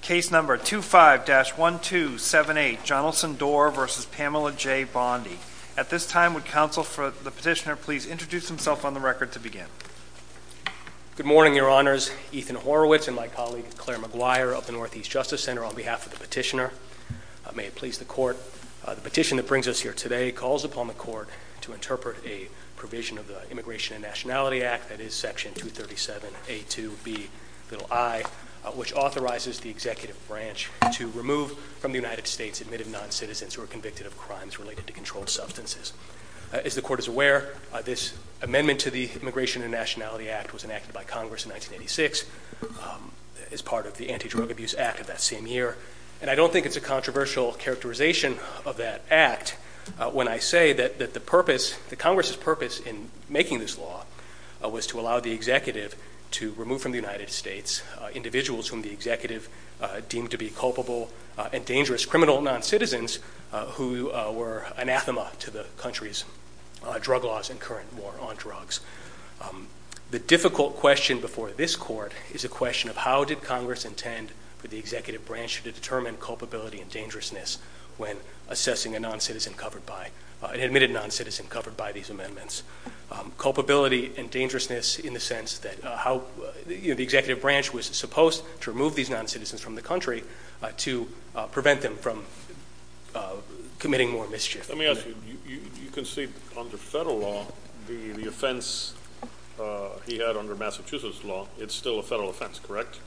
Case No. 25-1278, Jonelson Dorr v. Pamela J. Bondi. At this time, would counsel for the petitioner please introduce himself on the record to begin? Good morning, Your Honors. Ethan Horowitz and my colleague Claire McGuire of the Northeast Justice Center on behalf of the petitioner. May it please the Court, the petition that brings us here today calls upon the Court to interpret a provision of the Immigration and Nationality Act, that is Section 237A2Bi, which authorizes the executive branch to remove from the United States admitted non-citizens who are convicted of crimes related to controlled substances. As the Court is aware, this amendment to the Immigration and Nationality Act was enacted by Congress in 1986 as part of the Anti-Drug Abuse Act of that same year, and I don't think it's a controversial characterization of that act when I say that the purpose, that Congress's purpose in making this law was to allow the executive to remove from the United States individuals whom the executive deemed to be culpable and dangerous criminal non-citizens who were anathema to the country's drug laws and current war on drugs. The difficult question before this Court is a question of how did Congress intend for the executive branch to determine culpability and dangerousness when assessing a non-citizen covered by, an admitted non-citizen covered by these amendments. Culpability and dangerousness in the sense that how, you know, the executive branch was supposed to remove these non-citizens from the country to prevent them from committing more mischief. Let me ask you, you can see under federal law the offense he had under Massachusetts law, it's still a federal offense, correct?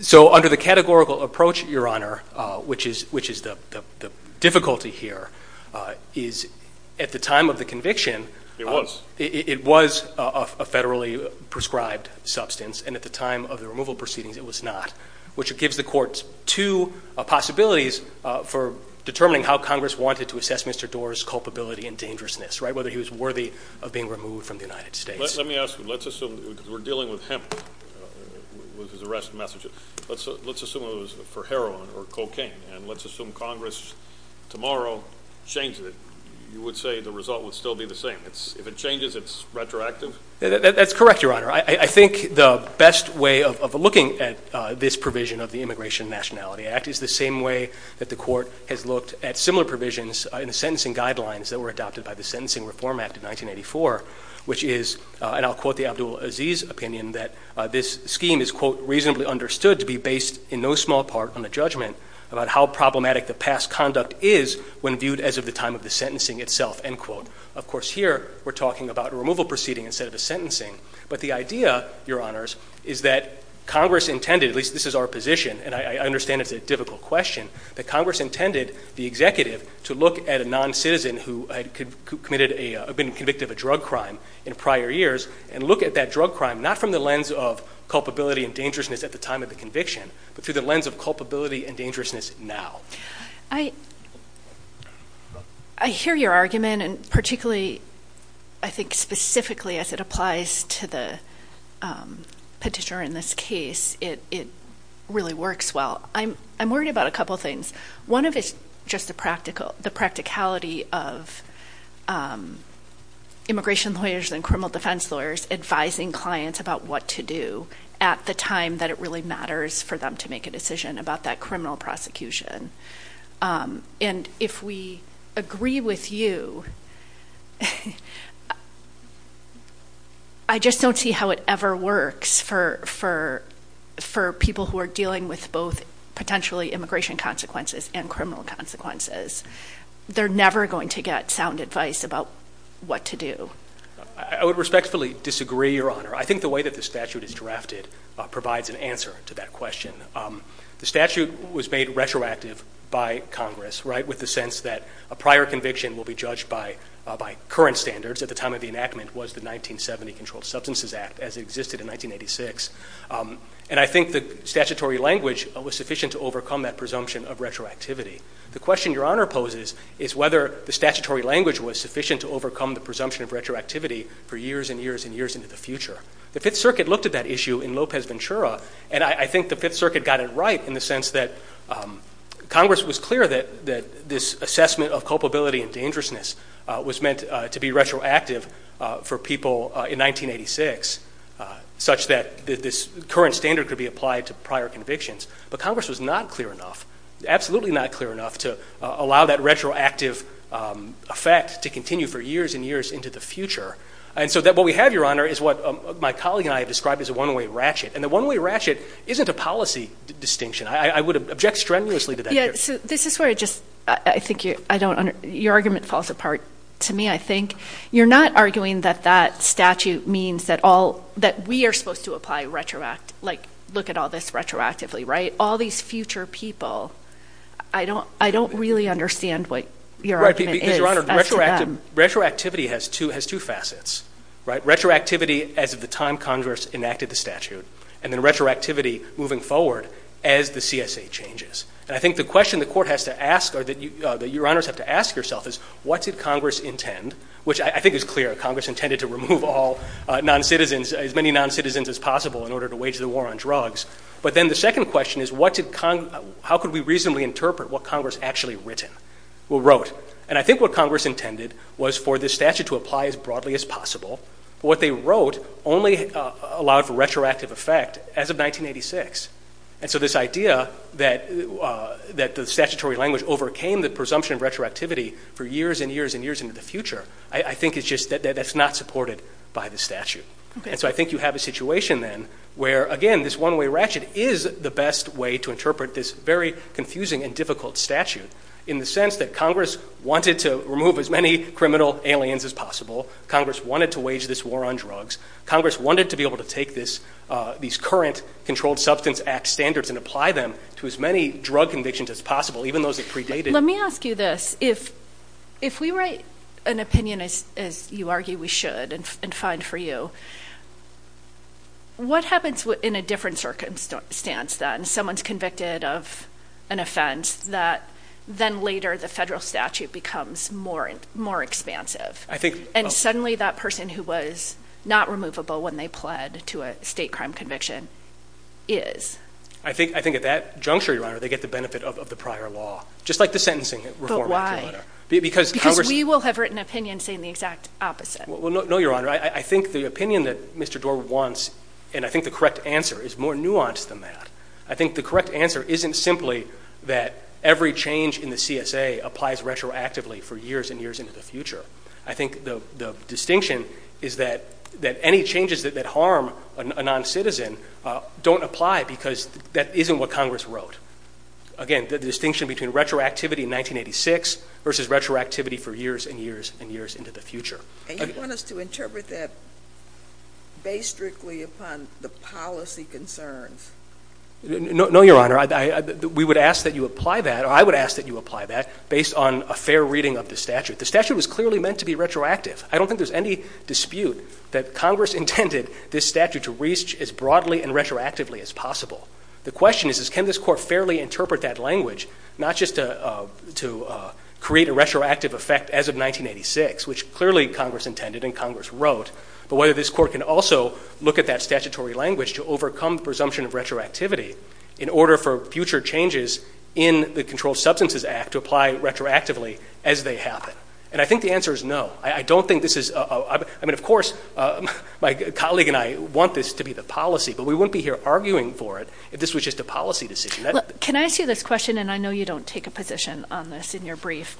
So under the categorical approach, Your Honor, which is the difficulty here, is at the time of the conviction, it was a federally prescribed substance and at the time of the removal proceedings it was not, which gives the courts two possibilities for determining how Congress wanted to assess Mr. Doar's culpability and dangerousness, right, whether he was worthy of being removed from the United States. Let me ask you, let's assume, because we're dealing with hemp, with his arrest message, let's assume it was for heroin or cocaine and let's assume Congress tomorrow changes it, you would say the result would still be the same. If it changes, it's retroactive? That's correct, Your Honor. I think the best way of looking at this provision of the Immigration and Nationality Act is the same way that the Court has looked at similar provisions in the sentencing guidelines that were adopted by the Sentencing Reform Act of 1984, which is, and I'll quote the Abdul Aziz opinion, that this scheme is, quote, reasonably understood to be based in no small part on a judgment about how problematic the past conduct is when viewed as of the time of the sentencing itself, end quote. Of course, here we're talking about a removal proceeding instead of a sentencing. But the idea, Your Honors, is that Congress intended, at least this is our position and I understand it's a difficult question, that Congress intended the executive to look at a non-citizen who had been convicted of a drug crime in prior years and look at that drug crime not from the lens of culpability and dangerousness at the time of the conviction but through the lens of culpability and dangerousness now. I hear your argument and particularly, I think specifically as it applies to the petitioner in this case, it really works well. I'm worried about a couple things. One of it's just the practicality of immigration lawyers and criminal defense lawyers advising clients about what to do at the time that it really matters for them to make a decision about that criminal prosecution. And if we agree with you, I just don't see how it ever works for people who are dealing with both potentially immigration consequences and criminal consequences. They're never going to get sound advice about what to do. I would respectfully disagree, Your Honor. I think the way that the statute is drafted provides an answer to that question. The statute was made retroactive by Congress, right, with the sense that a prior conviction will be judged by current standards at the time of the enactment was the 1970 Controlled Substances Act as it existed in 1986. And I think the statutory language was sufficient to overcome that presumption of retroactivity. The question Your Honor poses is whether the statutory language was sufficient to overcome the presumption of retroactivity for years and years and years into the future. The Fifth Circuit looked at that issue in Lopez-Ventura, and I think the Fifth Circuit got it right in the sense that Congress was clear that this assessment of culpability and dangerousness was meant to be retroactive for people in 1986, such that this current standard could be applied to prior convictions. But Congress was not clear enough, absolutely not clear enough, to allow that retroactive effect to continue for years and years into the future. And so what we have, Your Honor, is what my colleague and I have described as a one-way ratchet. And the one-way ratchet isn't a policy distinction. I would object strenuously to that. Yeah, so this is where I just, I think you, I don't, your argument falls apart to me, I think. You're not arguing that that statute means that all, that we are supposed to apply retroact, like look at all this retroactively, right? All these future people, I don't, I don't really understand what your argument is as Right, because Your Honor, retroactivity has two facets, right? Retroactivity as of the time Congress enacted the statute, and then retroactivity moving forward as the CSA changes. And I think the question the court has to ask, or that you, that Your Honors have to ask yourself is, what did Congress intend? Which I think is clear, Congress intended to remove all non-citizens, as many non-citizens as possible in order to wage the war on drugs. But then the second question is, what did, how could we reasonably interpret what Congress actually written, or wrote? And I think what Congress intended was for this statute to apply as broadly as possible. What they wrote only allowed for retroactive effect as of 1986. And so this idea that, that the statutory language overcame the presumption of retroactivity for years and years and years into the future, I think it's just, that's not supported by the statute. And so I think you have a situation then, where again, this one-way ratchet is the best way to interpret this very confusing and difficult statute. In the sense that Congress wanted to remove as many criminal aliens as possible. Congress wanted to wage this war on drugs. Congress wanted to be able to take this, these current Controlled Substance Act standards and apply them to as many drug convictions as possible, even those that predated. Let me ask you this. If we write an opinion, as you argue we should, and find for you, what happens in a different circumstance then? Someone's convicted of an offense that then later the federal statute becomes more expansive. And suddenly that person who was not removable when they pled to a state crime conviction is. I think at that juncture, Your Honor, they get the benefit of the prior law. Just like the sentencing reform act, Your Honor. Because we will have written opinions saying the exact opposite. Well, no, Your Honor. I think the opinion that Mr. Doar wants, and I think the correct answer is more nuanced than that. I think the correct answer isn't simply that every change in the CSA applies retroactively for years and years into the future. I think the distinction is that any changes that harm a non-citizen don't apply because that isn't what Congress wrote. Again, the distinction between retroactivity in 1986 versus retroactivity for years and years and years into the future. And you want us to interpret that based strictly upon the policy concerns? No, Your Honor. We would ask that you apply that, or I would ask that you apply that, based on a fair reading of the statute. The statute was clearly meant to be retroactive. I don't think there's any dispute that Congress intended this statute to reach as broadly and retroactively as possible. The question is, can this court fairly interpret that language, not just to create a retroactive effect as of 1986, which clearly Congress intended and Congress wrote, but whether this court can also look at that statutory language to overcome the presumption of retroactivity in order for future changes in the Controlled Substances Act to apply retroactively as they happen. And I think the answer is no. I don't think this is – I mean, of course, my colleague and I want this to be the policy, but we wouldn't be here arguing for it if this was just a policy decision. Can I ask you this question, and I know you don't take a position on this in your brief.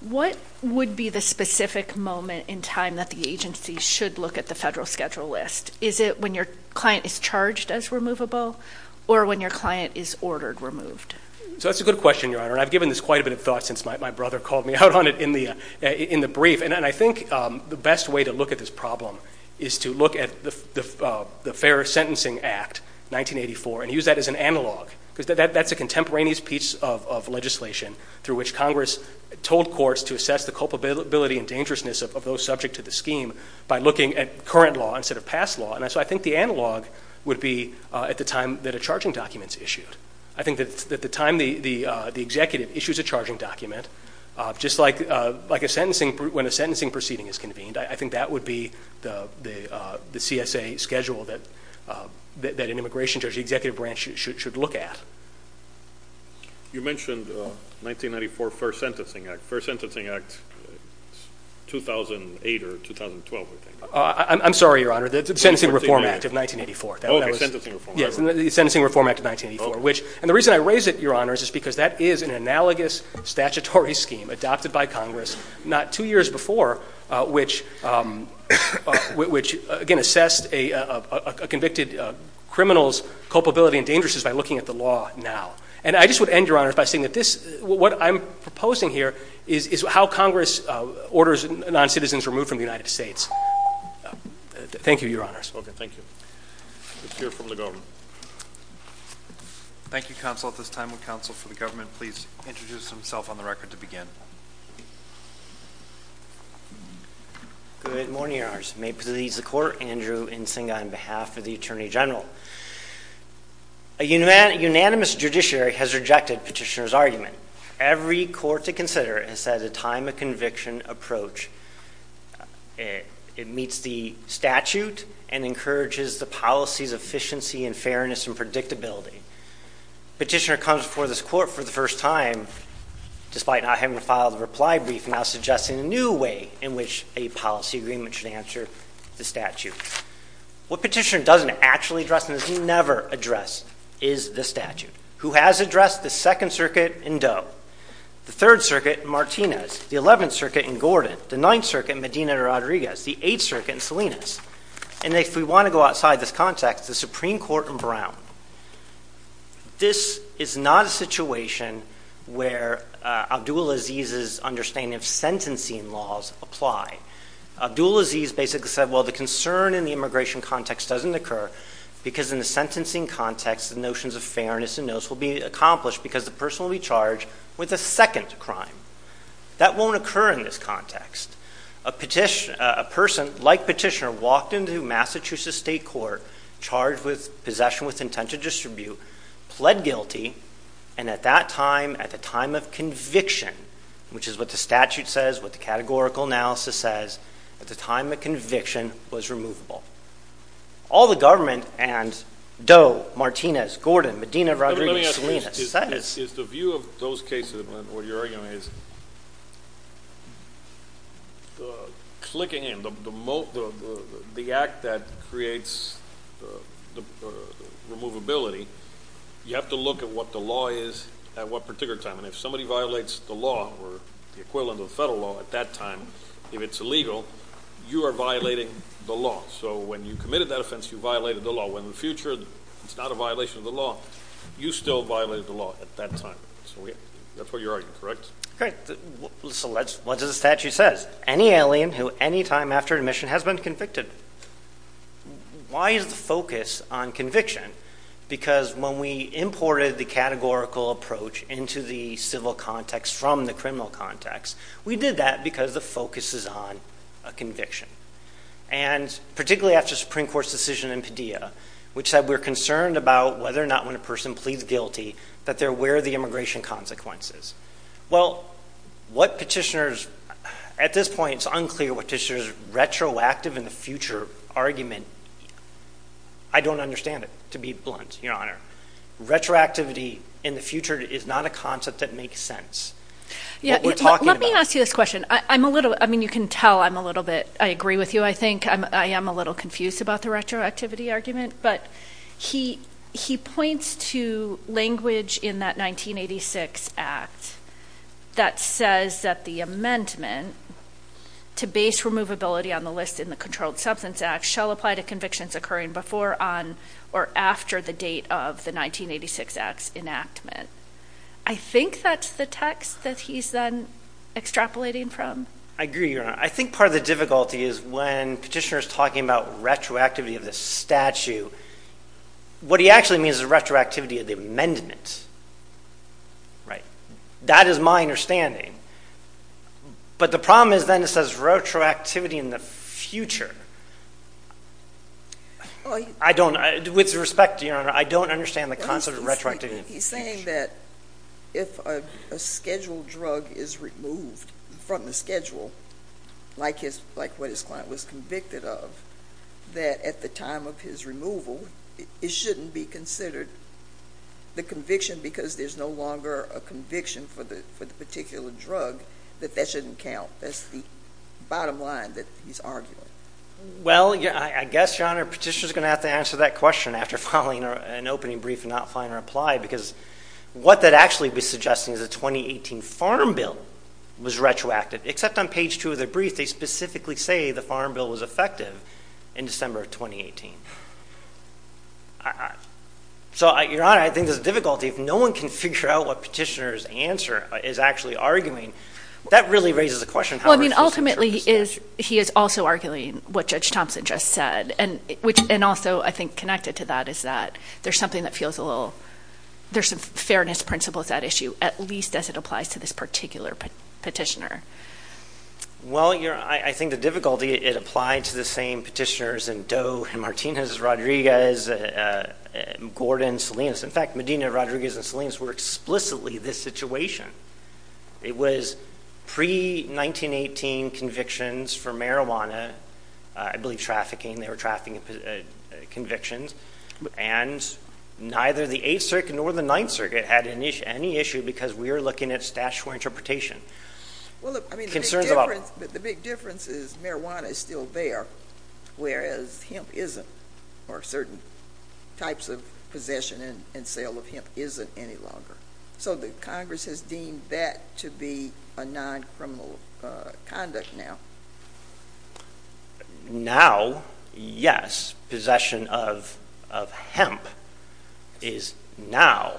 What would be the specific moment in time that the agency should look at the federal schedule list? Is it when your client is charged as removable, or when your client is ordered removed? So that's a good question, Your Honor, and I've given this quite a bit of thought since my brother called me out on it in the brief, and I think the best way to look at this problem is to look at the Fair Sentencing Act, 1984, and use that as an analog, because that's a contemporaneous piece of legislation through which Congress told courts to assess the culpability and dangerousness of those subject to the scheme by looking at current law instead of past law. And so I think the analog would be at the time that a charging document is issued. I think that at the time the executive issues a charging document, just like when a sentencing proceeding is convened, I think that would be the CSA schedule that an immigration judge, the executive branch, should look at. You mentioned 1994 Fair Sentencing Act. Fair Sentencing Act, 2008 or 2012, I think. I'm sorry, Your Honor, the Sentencing Reform Act of 1984. Oh, the Sentencing Reform Act. Yes, the Sentencing Reform Act of 1984, and the reason I raise it, Your Honor, is because that is an analogous statutory scheme adopted by Congress not two years before, which again assessed a convicted criminal's culpability and dangerousness by looking at the law now. And I just would end, Your Honor, by saying that this, what I'm proposing here is how Congress orders non-citizens removed from the United States. Thank you, Your Honors. Okay. Thank you. Let's hear from the Governor. Thank you, Counsel. At this time, would Counsel for the Government please introduce himself on the record to begin? Good morning, Your Honors. May it please the Court, Andrew Nsinga on behalf of the Attorney General. A unanimous judiciary has rejected Petitioner's argument. Every court to consider has had a time of conviction approach. It meets the statute and encourages the policy's efficiency and fairness and predictability. Petitioner comes before this Court for the first time, despite not having filed a reply brief, now suggesting a new way in which a policy agreement should answer the statute. What Petitioner doesn't actually address and has never addressed is the statute. Who has addressed? The Second Circuit in Doe, the Third Circuit in Martinez, the Eleventh Circuit in Gordon, the Ninth Circuit in Medina Rodriguez, the Eighth Circuit in Salinas, and if we want to go outside this context, the Supreme Court in Brown. This is not a situation where Abdul Aziz's understanding of sentencing laws apply. Abdul Aziz basically said, well, the concern in the immigration context doesn't occur because in the sentencing context, the notions of fairness and notice will be accomplished because the person will be charged with a second crime. That won't occur in this context. A person like Petitioner walked into Massachusetts State Court, charged with possession with intent to distribute, pled guilty, and at that time, at the time of conviction, which is what the statute says, what the categorical analysis says, at the time of conviction, was removable. All the government and Doe, Martinez, Gordon, Medina, Rodriguez, Salinas, says— Let me ask you this. Is the view of those cases, what you're arguing is, clicking in, the act that creates the removability, you have to look at what the law is at what particular time. And if somebody violates the law or the equivalent of the federal law at that time, if it's violating the law, so when you committed that offense, you violated the law. In the future, it's not a violation of the law. You still violated the law at that time. So that's what you're arguing, correct? Great. So what does the statute say? Any alien who any time after admission has been convicted. Why is the focus on conviction? Because when we imported the categorical approach into the civil context from the criminal context, we did that because the focus is on a conviction. And particularly after the Supreme Court's decision in Padilla, which said we're concerned about whether or not when a person pleads guilty that there were the immigration consequences. Well, what petitioners—at this point, it's unclear what petitioners' retroactive in the future argument—I don't understand it, to be blunt, Your Honor. Retroactivity in the future is not a concept that makes sense. Let me ask you this question. I'm a little—I mean, you can tell I'm a little bit—I agree with you, I think. I am a little confused about the retroactivity argument. But he points to language in that 1986 Act that says that the amendment to base removability on the list in the Controlled Substance Act shall apply to convictions occurring before, on, or after the date of the 1986 Act's enactment. I think that's the text that he's then extrapolating from. I agree, Your Honor. I think part of the difficulty is when petitioners are talking about retroactivity of the statute, what he actually means is retroactivity of the amendment. Right? That is my understanding. But the problem is then it says retroactivity in the future. I don't—with respect, Your Honor, I don't understand the concept of retroactivity. He's saying that if a scheduled drug is removed from the schedule, like what his client was convicted of, that at the time of his removal it shouldn't be considered the conviction because there's no longer a conviction for the particular drug, that that shouldn't count. That's the bottom line that he's arguing. Well, I guess, Your Honor, petitioners are going to have to answer that question after filing an opening brief and not filing a reply because what that actually was suggesting is a 2018 farm bill was retroactive. Except on page 2 of their brief, they specifically say the farm bill was effective in December of 2018. So, Your Honor, I think there's a difficulty. If no one can figure out what petitioner's answer is actually arguing, that really raises a question. Well, I mean, ultimately he is also arguing what Judge Thompson just said, and also I think connected to that is that there's something that feels a little— there's a fairness principle to that issue, at least as it applies to this particular petitioner. Well, Your Honor, I think the difficulty, it applied to the same petitioners in Doe and Martinez, Rodriguez, Gordon, Salinas. In fact, Medina, Rodriguez, and Salinas were explicitly this situation. It was pre-1918 convictions for marijuana. I believe trafficking, they were trafficking convictions. And neither the Eighth Circuit nor the Ninth Circuit had any issue because we are looking at statutory interpretation. Well, I mean, the big difference is marijuana is still there, whereas hemp isn't, or certain types of possession and sale of hemp isn't any longer. So the Congress has deemed that to be a non-criminal conduct now? Now, yes, possession of hemp is now,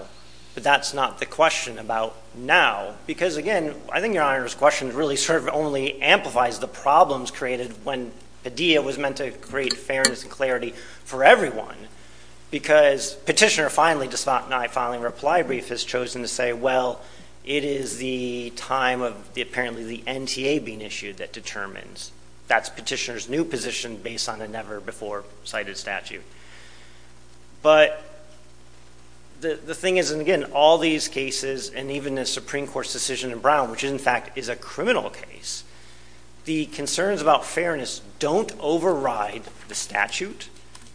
but that's not the question about now. Because, again, I think Your Honor's question really sort of only amplifies the problems created when Padilla was meant to create fairness and clarity for everyone because petitioner finally, despite not filing a reply brief, has chosen to say, well, it is the time of apparently the NTA being issued that determines. That's petitioner's new position based on a never-before-cited statute. But the thing is, and again, all these cases, and even the Supreme Court's decision in Brown, which in fact is a criminal case, the concerns about fairness don't override the statute.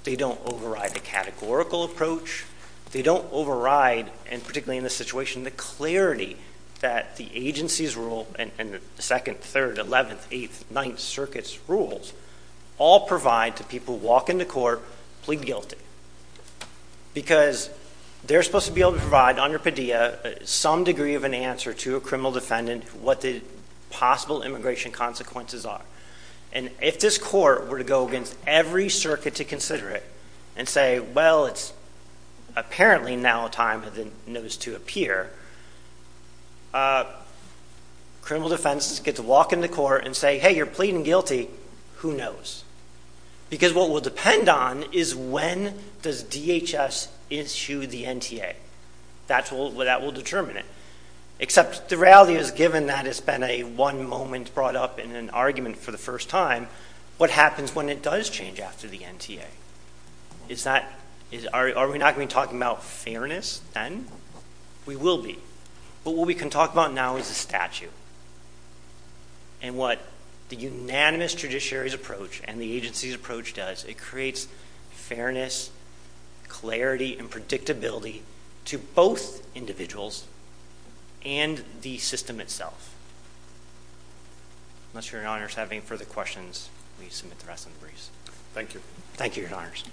They don't override a categorical approach. They don't override, and particularly in this situation, the clarity that the agency's rule and the 2nd, 3rd, 11th, 8th, 9th Circuit's rules all provide to people walking to court pleading guilty because they're supposed to be able to provide under Padilla some degree of an answer to a criminal defendant what the possible immigration consequences are. And if this court were to go against every circuit to consider it and say, well, it's apparently now time for the notice to appear, criminal defense gets to walk into court and say, hey, you're pleading guilty. Who knows? Because what will depend on is when does DHS issue the NTA. That will determine it. Except the reality is given that it's been a one moment brought up in an argument for the first time, what happens when it does change after the NTA? Are we not going to be talking about fairness then? We will be. But what we can talk about now is the statute and what the unanimous judiciary's approach and the agency's approach does. It creates fairness, clarity, and predictability to both individuals and the system itself. Unless you're in honors to have any further questions, we submit the rest in the briefs. Thank you. Thank you, your honors.